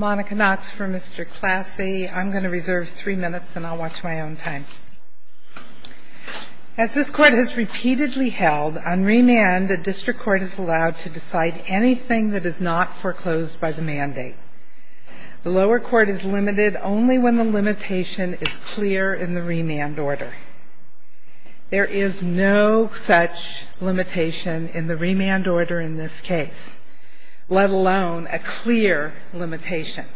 As this Court has repeatedly held, on remand the District Court is allowed to decide anything that is not foreclosed by the mandate. The lower court is limited only when the limitation is clear in the remand order. There is no such limitation in the remand order in this case, let alone a clear limitation.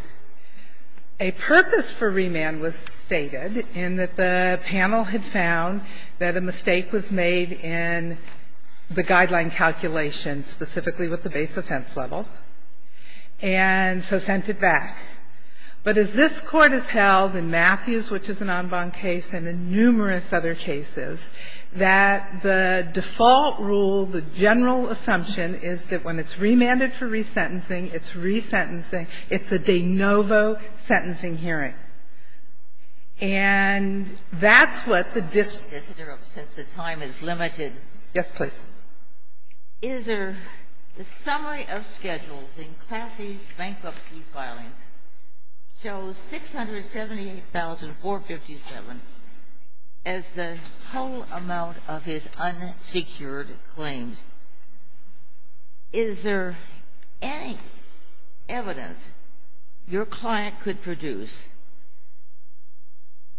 A purpose for remand was stated in that the panel had found that a mistake was made in the guideline calculation specifically with the base offense level and so sent it back. But as this Court has held in Matthews, which is an en banc case, and in numerous other cases, that the default rule, the general assumption, is that when it's remanded for resentencing, it's resentencing, it's a de novo sentencing hearing. And that's what the District Court has decided. Yes, please. Is there the summary of schedules in Klassy's bankruptcy filings shows 678,457 as the total amount of his unsecured claims. Is there any evidence your client could produce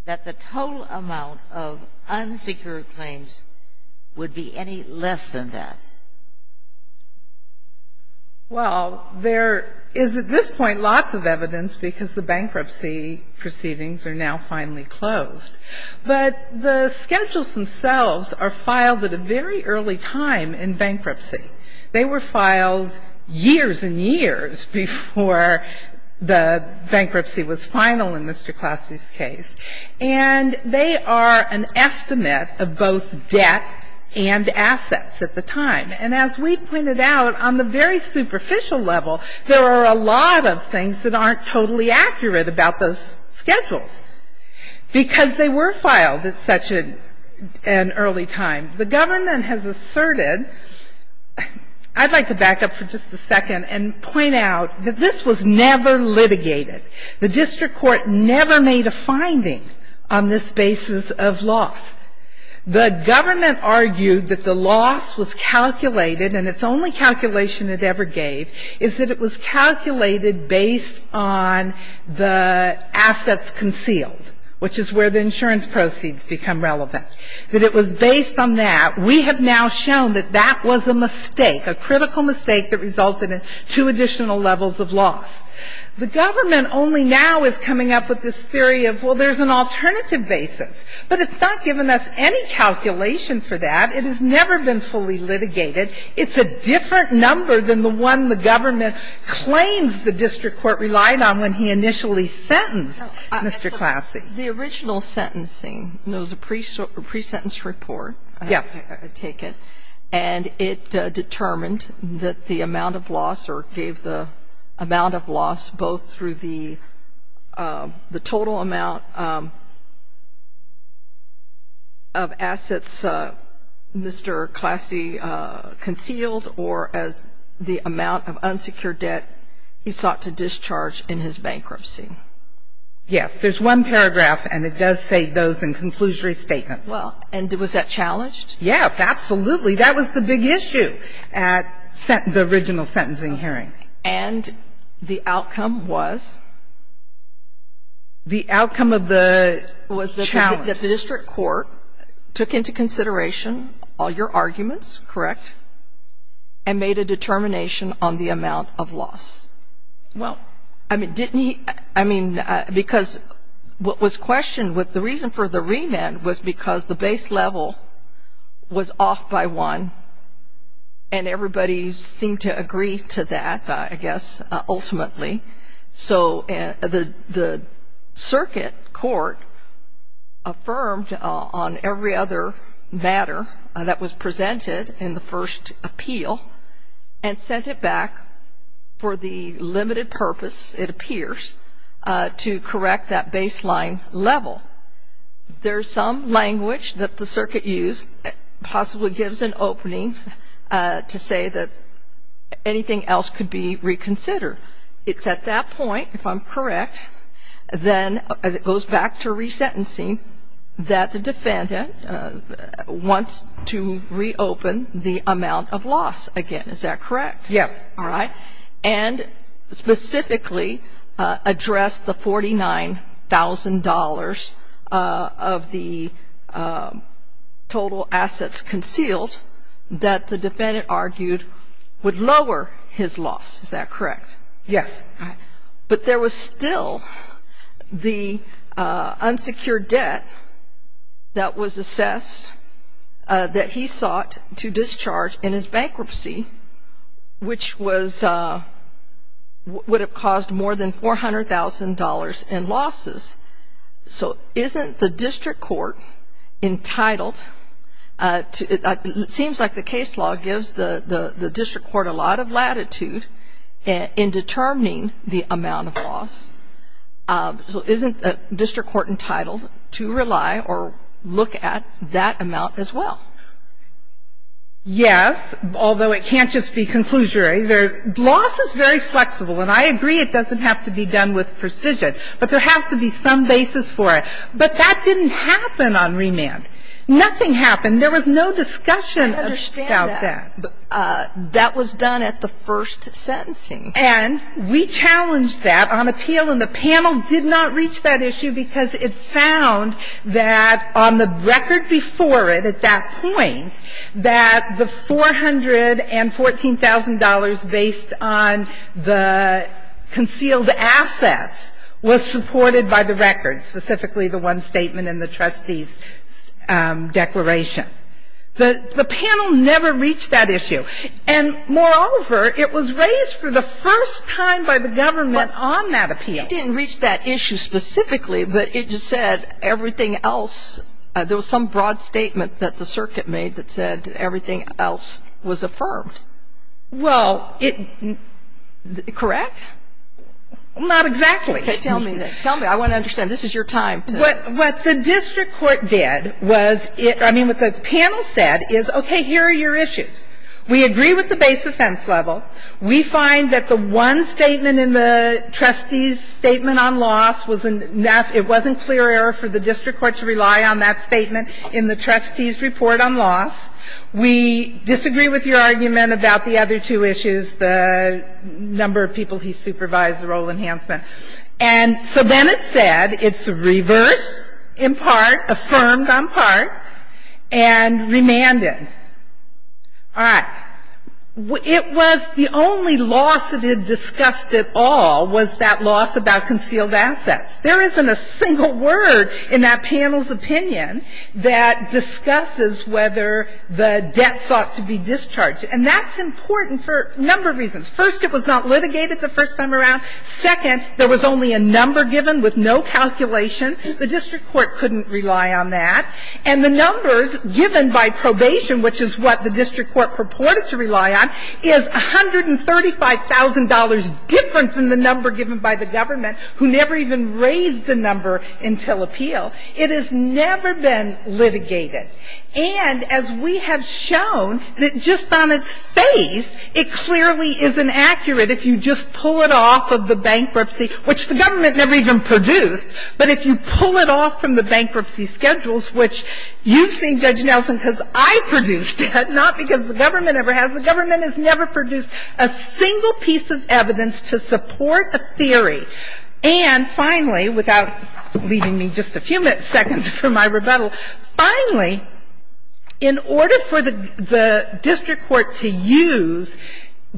that the total amount of unsecured claims would be any less than that? Well, there is at this point lots of evidence because the bankruptcy proceedings are now finally closed. But the schedules themselves are filed at a very early time in bankruptcy. They were filed years and years before the bankruptcy was final in Mr. Klassy's case, and they are an estimate of both debt and assets at the time. And as we pointed out, on the very superficial level, there are a lot of things that were filed at such an early time. The government has asserted, I'd like to back up for just a second and point out that this was never litigated. The District Court never made a finding on this basis of loss. The government argued that the loss was calculated, and its only calculation it ever gave is that it was calculated based on the assets concealed, which is where the insurance proceeds become relevant. That it was based on that. We have now shown that that was a mistake, a critical mistake that resulted in two additional levels of loss. The government only now is coming up with this theory of, well, there's an alternative basis, but it's not given us any calculation for that. It has never been fully litigated. It's a different number than the one the government claims the District Court relied on when he initially sentenced Mr. Klassy. The original sentencing, there was a pre-sentence report. Yes. I take it. And it determined that the amount of loss or gave the amount of loss both through the total amount of assets Mr. Klassy concealed or as the amount of unsecured debt he sought to discharge in his bankruptcy. Yes. There's one paragraph, and it does say those in conclusory statements. Well, and was that challenged? Yes, absolutely. That was the big issue at the original sentencing hearing. And the outcome was? The outcome of the challenge. Was that the District Court took into consideration all your arguments, correct, and made a determination on the amount of loss. Well. I mean, didn't he, I mean, because what was questioned, the reason for the remand was because the Circuit Court affirmed on every other matter that was presented in the first appeal and sent it back for the limited purpose, it appears, to correct that baseline level. There's some language that the Circuit used, possibly gives an opening to say that anything else could be reconsidered. It's at that point, if I'm correct, then as it goes back to resentencing, that the defendant wants to reopen the amount of loss again. Is that correct? Yes. All right. And specifically address the $49,000 of the total assets concealed that the defendant argued would lower his loss. Is that correct? Yes. All right. But there was still the unsecured debt that was assessed that he sought to discharge in his bankruptcy, which was, would have caused more than $400,000 in losses. So isn't the District Court entitled to, it seems like the case law gives the District Court a lot of latitude to determine the amount of loss. So isn't the District Court entitled to rely or look at that amount as well? Yes, although it can't just be conclusionary. Loss is very flexible, and I agree it doesn't have to be done with precision. But there has to be some basis for it. But that didn't happen on remand. Nothing happened. There was no discussion about that. But that was done at the first sentencing. And we challenged that on appeal, and the panel did not reach that issue because it found that on the record before it, at that point, that the $414,000 based on the concealed assets was supported by the record, specifically the one statement in the trustee's declaration. The panel never reached that issue. And, moreover, it was raised for the first time by the government on that appeal. It didn't reach that issue specifically, but it just said everything else, there was some broad statement that the circuit made that said everything else was affirmed. Well, it, correct? Not exactly. Tell me. I want to understand. This is your time. What the district court did was it, I mean, what the panel said is, okay, here are your issues. We agree with the base offense level. We find that the one statement in the trustee's statement on loss was enough. It wasn't clear error for the district court to rely on that statement in the trustee's report on loss. We disagree with your argument about the other two issues, the number of people he supervised, the role enhancement. And so then it said it's reversed in part, affirmed on part, and remanded. All right. It was the only loss that had discussed at all was that loss about concealed assets. There isn't a single word in that panel's opinion that discusses whether the debt sought to be discharged. And that's important for a number of reasons. First, it was not litigated the first time around. Second, there was only a number given with no calculation. The district court couldn't rely on that. And the numbers given by probation, which is what the district court purported to rely on, is $135,000 different than the number given by the government, who never even raised the number until appeal. It has never been litigated. And as we have shown, that just on its face, it clearly is inaccurate if you just pull it off of the bankruptcy, which the government never even produced. But if you pull it off from the bankruptcy schedules, which you've seen Judge Nelson because I produced it, not because the government ever has. The government has never produced a single piece of evidence to support a theory. And finally, without leaving me just a few seconds for my rebuttal, finally, in order for the district court to use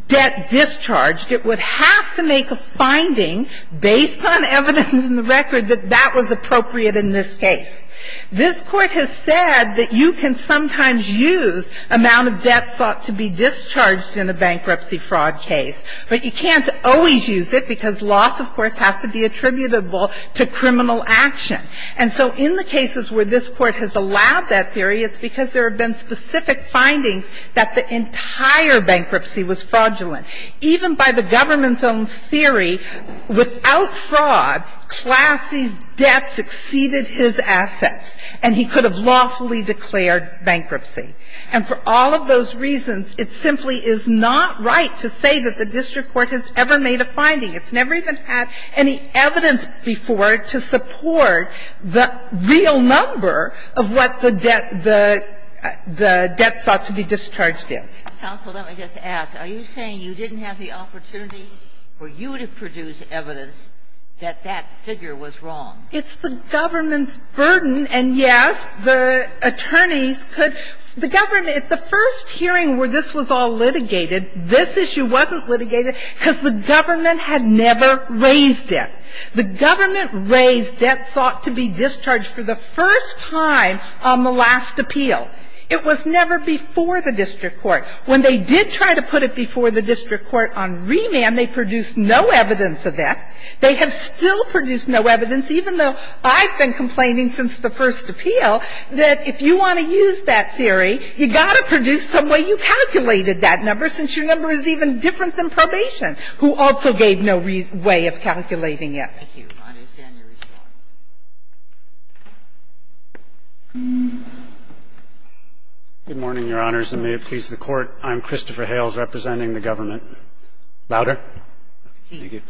debt discharged, it would have to make a finding based on evidence in the record that that was appropriate in this case. This Court has said that you can sometimes use amount of debt sought to be discharged in a bankruptcy fraud case. But you can't always use it because loss, of course, has to be attributable to criminal action. And so in the cases where this Court has allowed that theory, it's because there have been specific findings that the entire bankruptcy was fraudulent. Even by the government's own theory, without fraud, Classy's debt exceeded his assets, and he could have lawfully declared bankruptcy. And for all of those reasons, it simply is not right to say that the district court has ever made a finding. It's never even had any evidence before to support the real number of what the debt the debt sought to be discharged is. Ginsburg. Counsel, let me just ask. Are you saying you didn't have the opportunity for you to produce evidence that that figure was wrong? It's the government's burden. And, yes, the attorneys could the government at the first hearing where this was all litigated, this issue wasn't litigated because the government had never raised it. The government raised debt sought to be discharged for the first time on the last appeal. It was never before the district court. When they did try to put it before the district court on remand, they produced no evidence of that. They have still produced no evidence, even though I've been complaining since the first appeal, that if you want to use that theory, you've got to produce some way you calculated that number, since your number is even different than probation, who also gave no way of calculating it. Thank you. I understand your response. Good morning, Your Honors, and may it please the Court. I'm Christopher Hales representing the government. Louder? Thank you.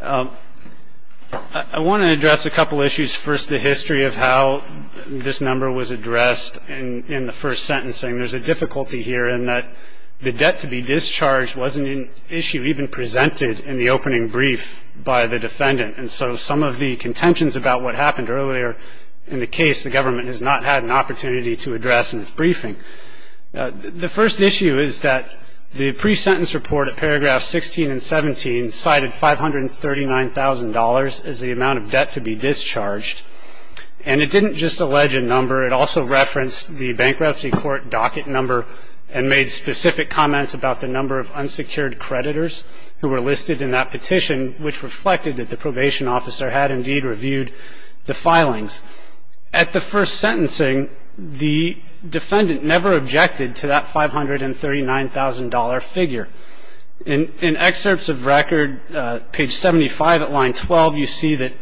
I want to address a couple issues. First, the history of how this number was addressed in the first sentencing. There's a difficulty here in that the debt to be discharged wasn't an issue even presented in the opening brief by the defendant. And so some of the contentions about what happened earlier in the case, the government has not had an opportunity to address in its briefing. The first issue is that the pre-sentence report at paragraphs 16 and 17 cited $539,000 as the amount of debt to be discharged. And it didn't just allege a number. It also referenced the bankruptcy court docket number and made specific comments about the number of unsecured creditors who were listed in that petition, which reflected that the probation officer had indeed reviewed the filings. At the first sentencing, the defendant never objected to that $539,000 figure. In excerpts of record, page 75 at line 12, you see that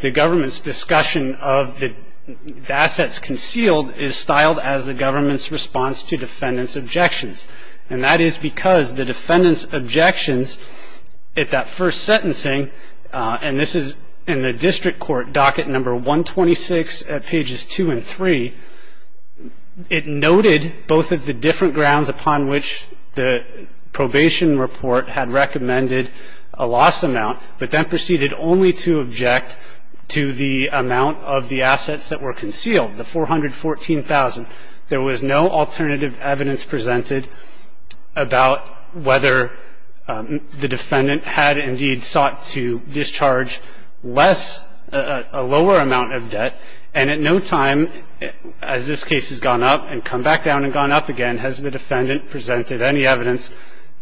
the government's discussion of the assets concealed is styled as the government's response to defendant's objections. And that is because the defendant's objections at that first sentencing, and this is in the district court docket number 126 at pages 2 and 3, it noted both of the different grounds upon which the probation report had recommended a loss amount, but then proceeded only to object to the amount of the assets that were concealed, the $414,000. There was no alternative evidence presented about whether the defendant had indeed sought to discharge less, a lower amount of debt. And at no time, as this case has gone up and come back down and gone up again, has the defendant presented any evidence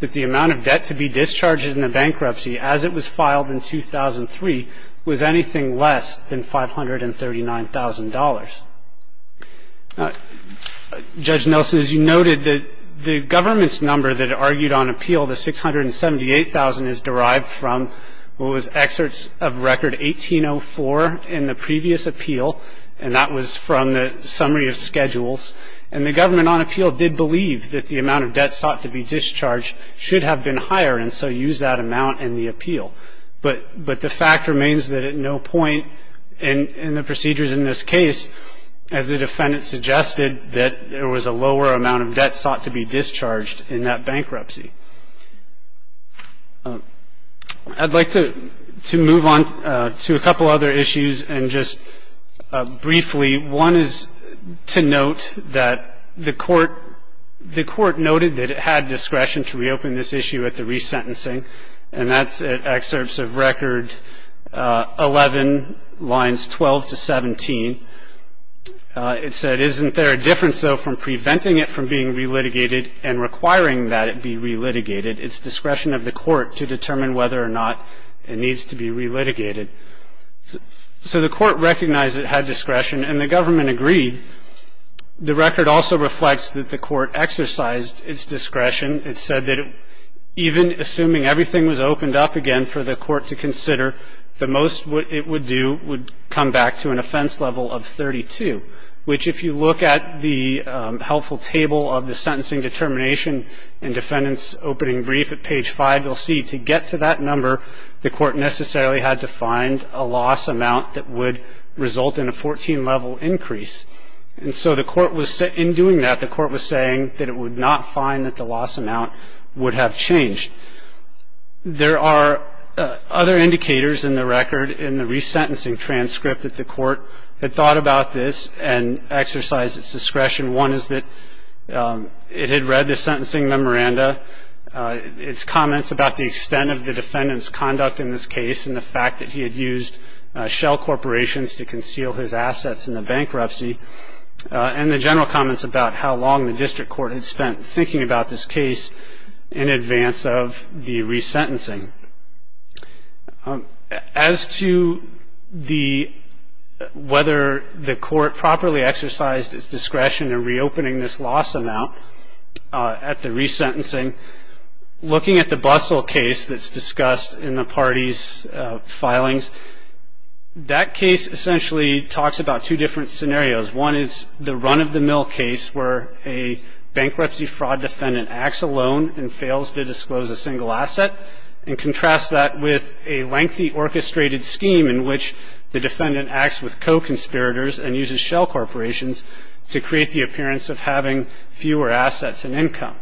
that the amount of debt to be discharged in a bankruptcy as it was filed in 2003 was anything less than $539,000. Judge Nelson, as you noted, the government's number that argued on appeal, the $678,000 is derived from what was excerpts of record 1804 in the previous appeal, and that was from the summary of schedules. And the government on appeal did believe that the amount of debt sought to be discharged should have been higher, and so used that amount in the appeal. But the fact remains that at no point in the procedures in this case has the defendant suggested that there was a lower amount of debt sought to be discharged in that bankruptcy. I'd like to move on to a couple other issues, and just briefly, one is to note that the Court noted that it had discretion to reopen this issue at the resentencing, and that's at excerpts of record 11, lines 12 to 17. It said, isn't there a difference, though, from preventing it from being re-litigated and requiring that it be re-litigated? It's discretion of the Court to determine whether or not it needs to be re-litigated. So the Court recognized it had discretion, and the government agreed. The record also reflects that the Court exercised its discretion. It said that even assuming everything was opened up again for the Court to consider, the most it would do would come back to an offense level of 32, which if you look at the helpful table of the sentencing determination and defendant's opening brief at page 5, you'll see to get to that number, the Court necessarily had to find a loss amount that would result in a 14-level increase. And so in doing that, the Court was saying that it would not find that the loss amount would have changed. There are other indicators in the record in the resentencing transcript that the Court had thought about this and exercised its discretion. One is that it had read the sentencing memoranda, its comments about the extent of the defendant's conduct in this case and the fact that he had used shell corporations to conceal his assets in the bankruptcy, and the general comments about how long the district court had spent thinking about this case in advance of the resentencing. As to whether the Court properly exercised its discretion in reopening this loss amount at the resentencing, looking at the Bustle case that's discussed in the parties' filings, that case essentially talks about two different scenarios. One is the run-of-the-mill case where a bankruptcy fraud defendant acts alone and fails to disclose a single asset, and contrasts that with a lengthy orchestrated scheme in which the defendant acts with co-conspirators and uses shell corporations to create the appearance of having fewer assets and income.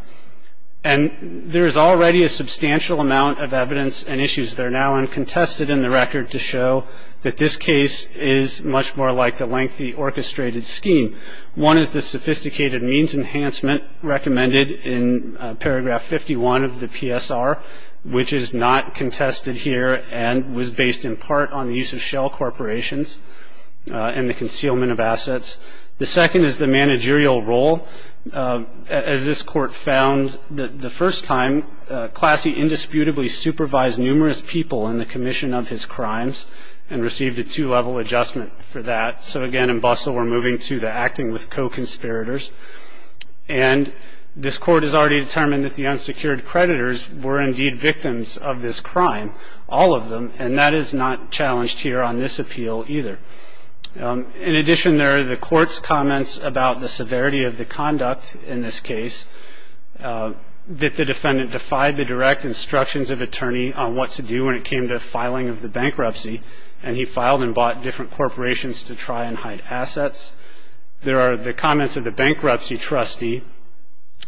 And there is already a substantial amount of evidence and issues that are now uncontested in the record to show that this case is much more like the lengthy orchestrated scheme. One is the sophisticated means enhancement recommended in paragraph 51 of the PSR, which is not contested here and was based in part on the use of shell corporations and the concealment of assets. The second is the managerial role. As this Court found the first time, Classy indisputably supervised numerous people in the commission of his crimes and received a two-level adjustment for that. So, again, in Bustle we're moving to the acting with co-conspirators. And this Court has already determined that the unsecured creditors were indeed victims of this crime, all of them, and that is not challenged here on this appeal either. In addition, there are the Court's comments about the severity of the conduct in this case that the defendant defied the direct instructions of attorney on what to do when it came to filing of the bankruptcy, and he filed and bought different corporations to try and hide assets. There are the comments of the bankruptcy trustee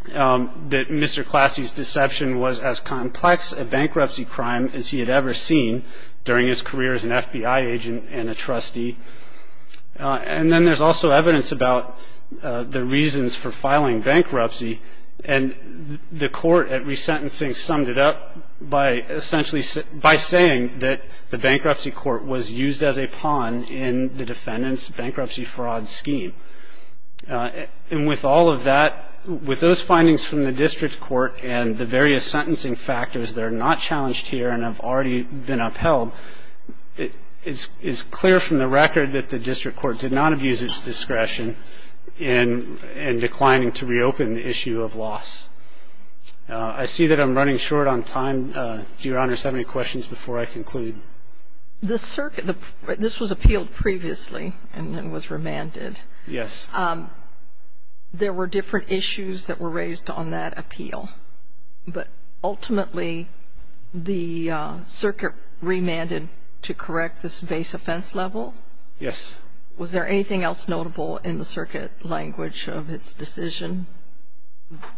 that Mr. Classy's deception was as complex a bankruptcy crime as he had ever seen during his career as an FBI agent and a trustee. And then there's also evidence about the reasons for filing bankruptcy, and the Court at resentencing summed it up by essentially by saying that the bankruptcy court was used as a pawn in the defendant's bankruptcy fraud scheme. And with all of that, with those findings from the district court and the various sentencing factors that are not challenged here and have already been upheld, it's clear from the record that the district court did not abuse its discretion in declining to reopen the issue of loss. I see that I'm running short on time. Do Your Honors have any questions before I conclude? This was appealed previously and then was remanded. Yes. There were different issues that were raised on that appeal, but ultimately the circuit remanded to correct this base offense level? Yes. Was there anything else notable in the circuit language of its decision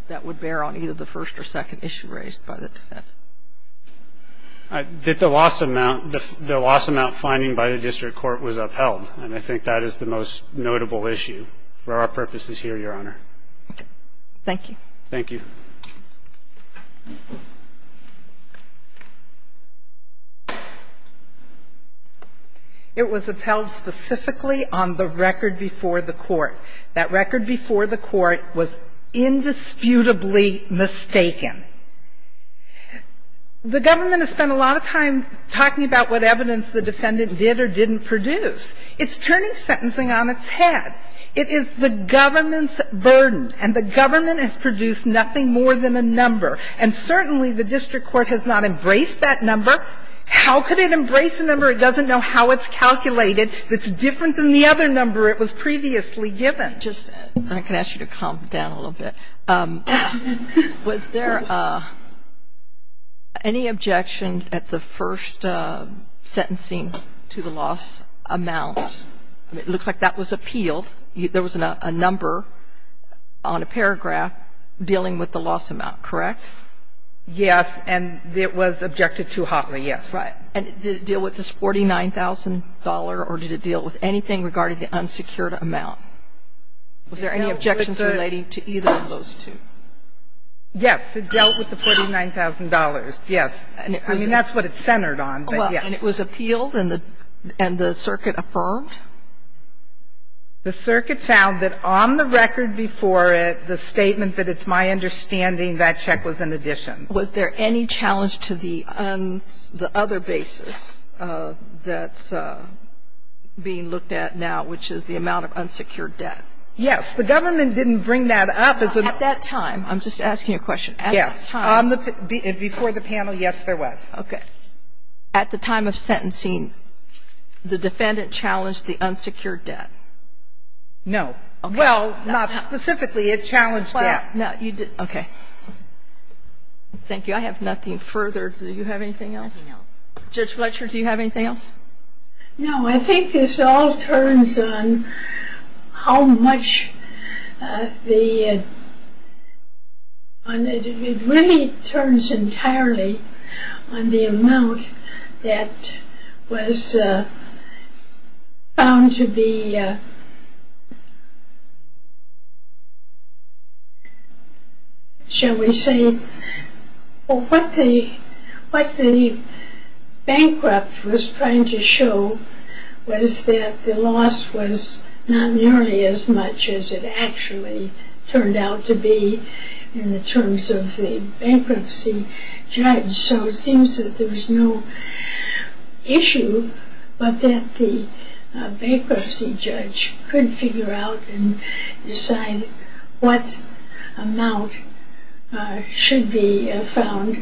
that would bear on either the first or second issue raised by the defendant? The loss amount finding by the district court was upheld, and I think that is the most notable issue for our purposes here, Your Honor. Thank you. Thank you. It was upheld specifically on the record before the court. That record before the court was indisputably mistaken. The government has spent a lot of time talking about what evidence the defendant did or didn't produce. It's turning sentencing on its head. It is the government's burden. And the government has produced nothing more than a number. And certainly the district court has not embraced that number. How could it embrace a number it doesn't know how it's calculated that's different than the other number it was previously given? Can I ask you to calm down a little bit? Was there any objection at the first sentencing to the loss amount? I mean, it looks like that was appealed. There was a number on a paragraph dealing with the loss amount, correct? Yes. And it was objected to hotly, yes. Right. And did it deal with this $49,000, or did it deal with anything regarding the unsecured amount? Was there any objections relating to either of those two? Yes. It dealt with the $49,000. Yes. I mean, that's what it's centered on, but yes. And it was appealed and the circuit affirmed? The circuit found that on the record before it, the statement that it's my understanding that check was an addition. Was there any challenge to the other basis that's being looked at now, which is the amount of unsecured debt? Yes. The government didn't bring that up. At that time. I'm just asking you a question. Yes. Before the panel, yes, there was. Okay. At the time of sentencing, the defendant challenged the unsecured debt? No. Well, not specifically. It challenged that. Well, no. Okay. Thank you. I have nothing further. Do you have anything else? Nothing else. Judge Fletcher, do you have anything else? No. Well, I think this all turns on how much the, it really turns entirely on the amount that was found to be, shall we say, what the bankrupt was trying to show was that the loss was not nearly as much as it actually turned out to be in the terms of the bankruptcy judge. So it seems that there was no issue, but that the bankruptcy judge could figure out and decide what amount should be found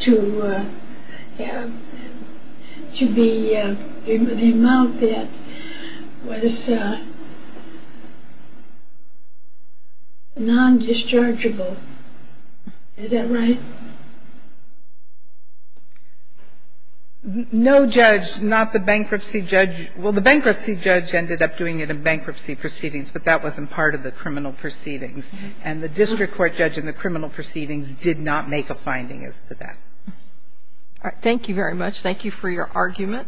to be, the amount that was non-dischargeable. Is that right? No judge, not the bankruptcy judge. Well, the bankruptcy judge ended up doing it in bankruptcy proceedings, but that wasn't part of the criminal proceedings. And the district court judge in the criminal proceedings did not make a finding as to that. All right. Thank you very much. Thank you for your argument.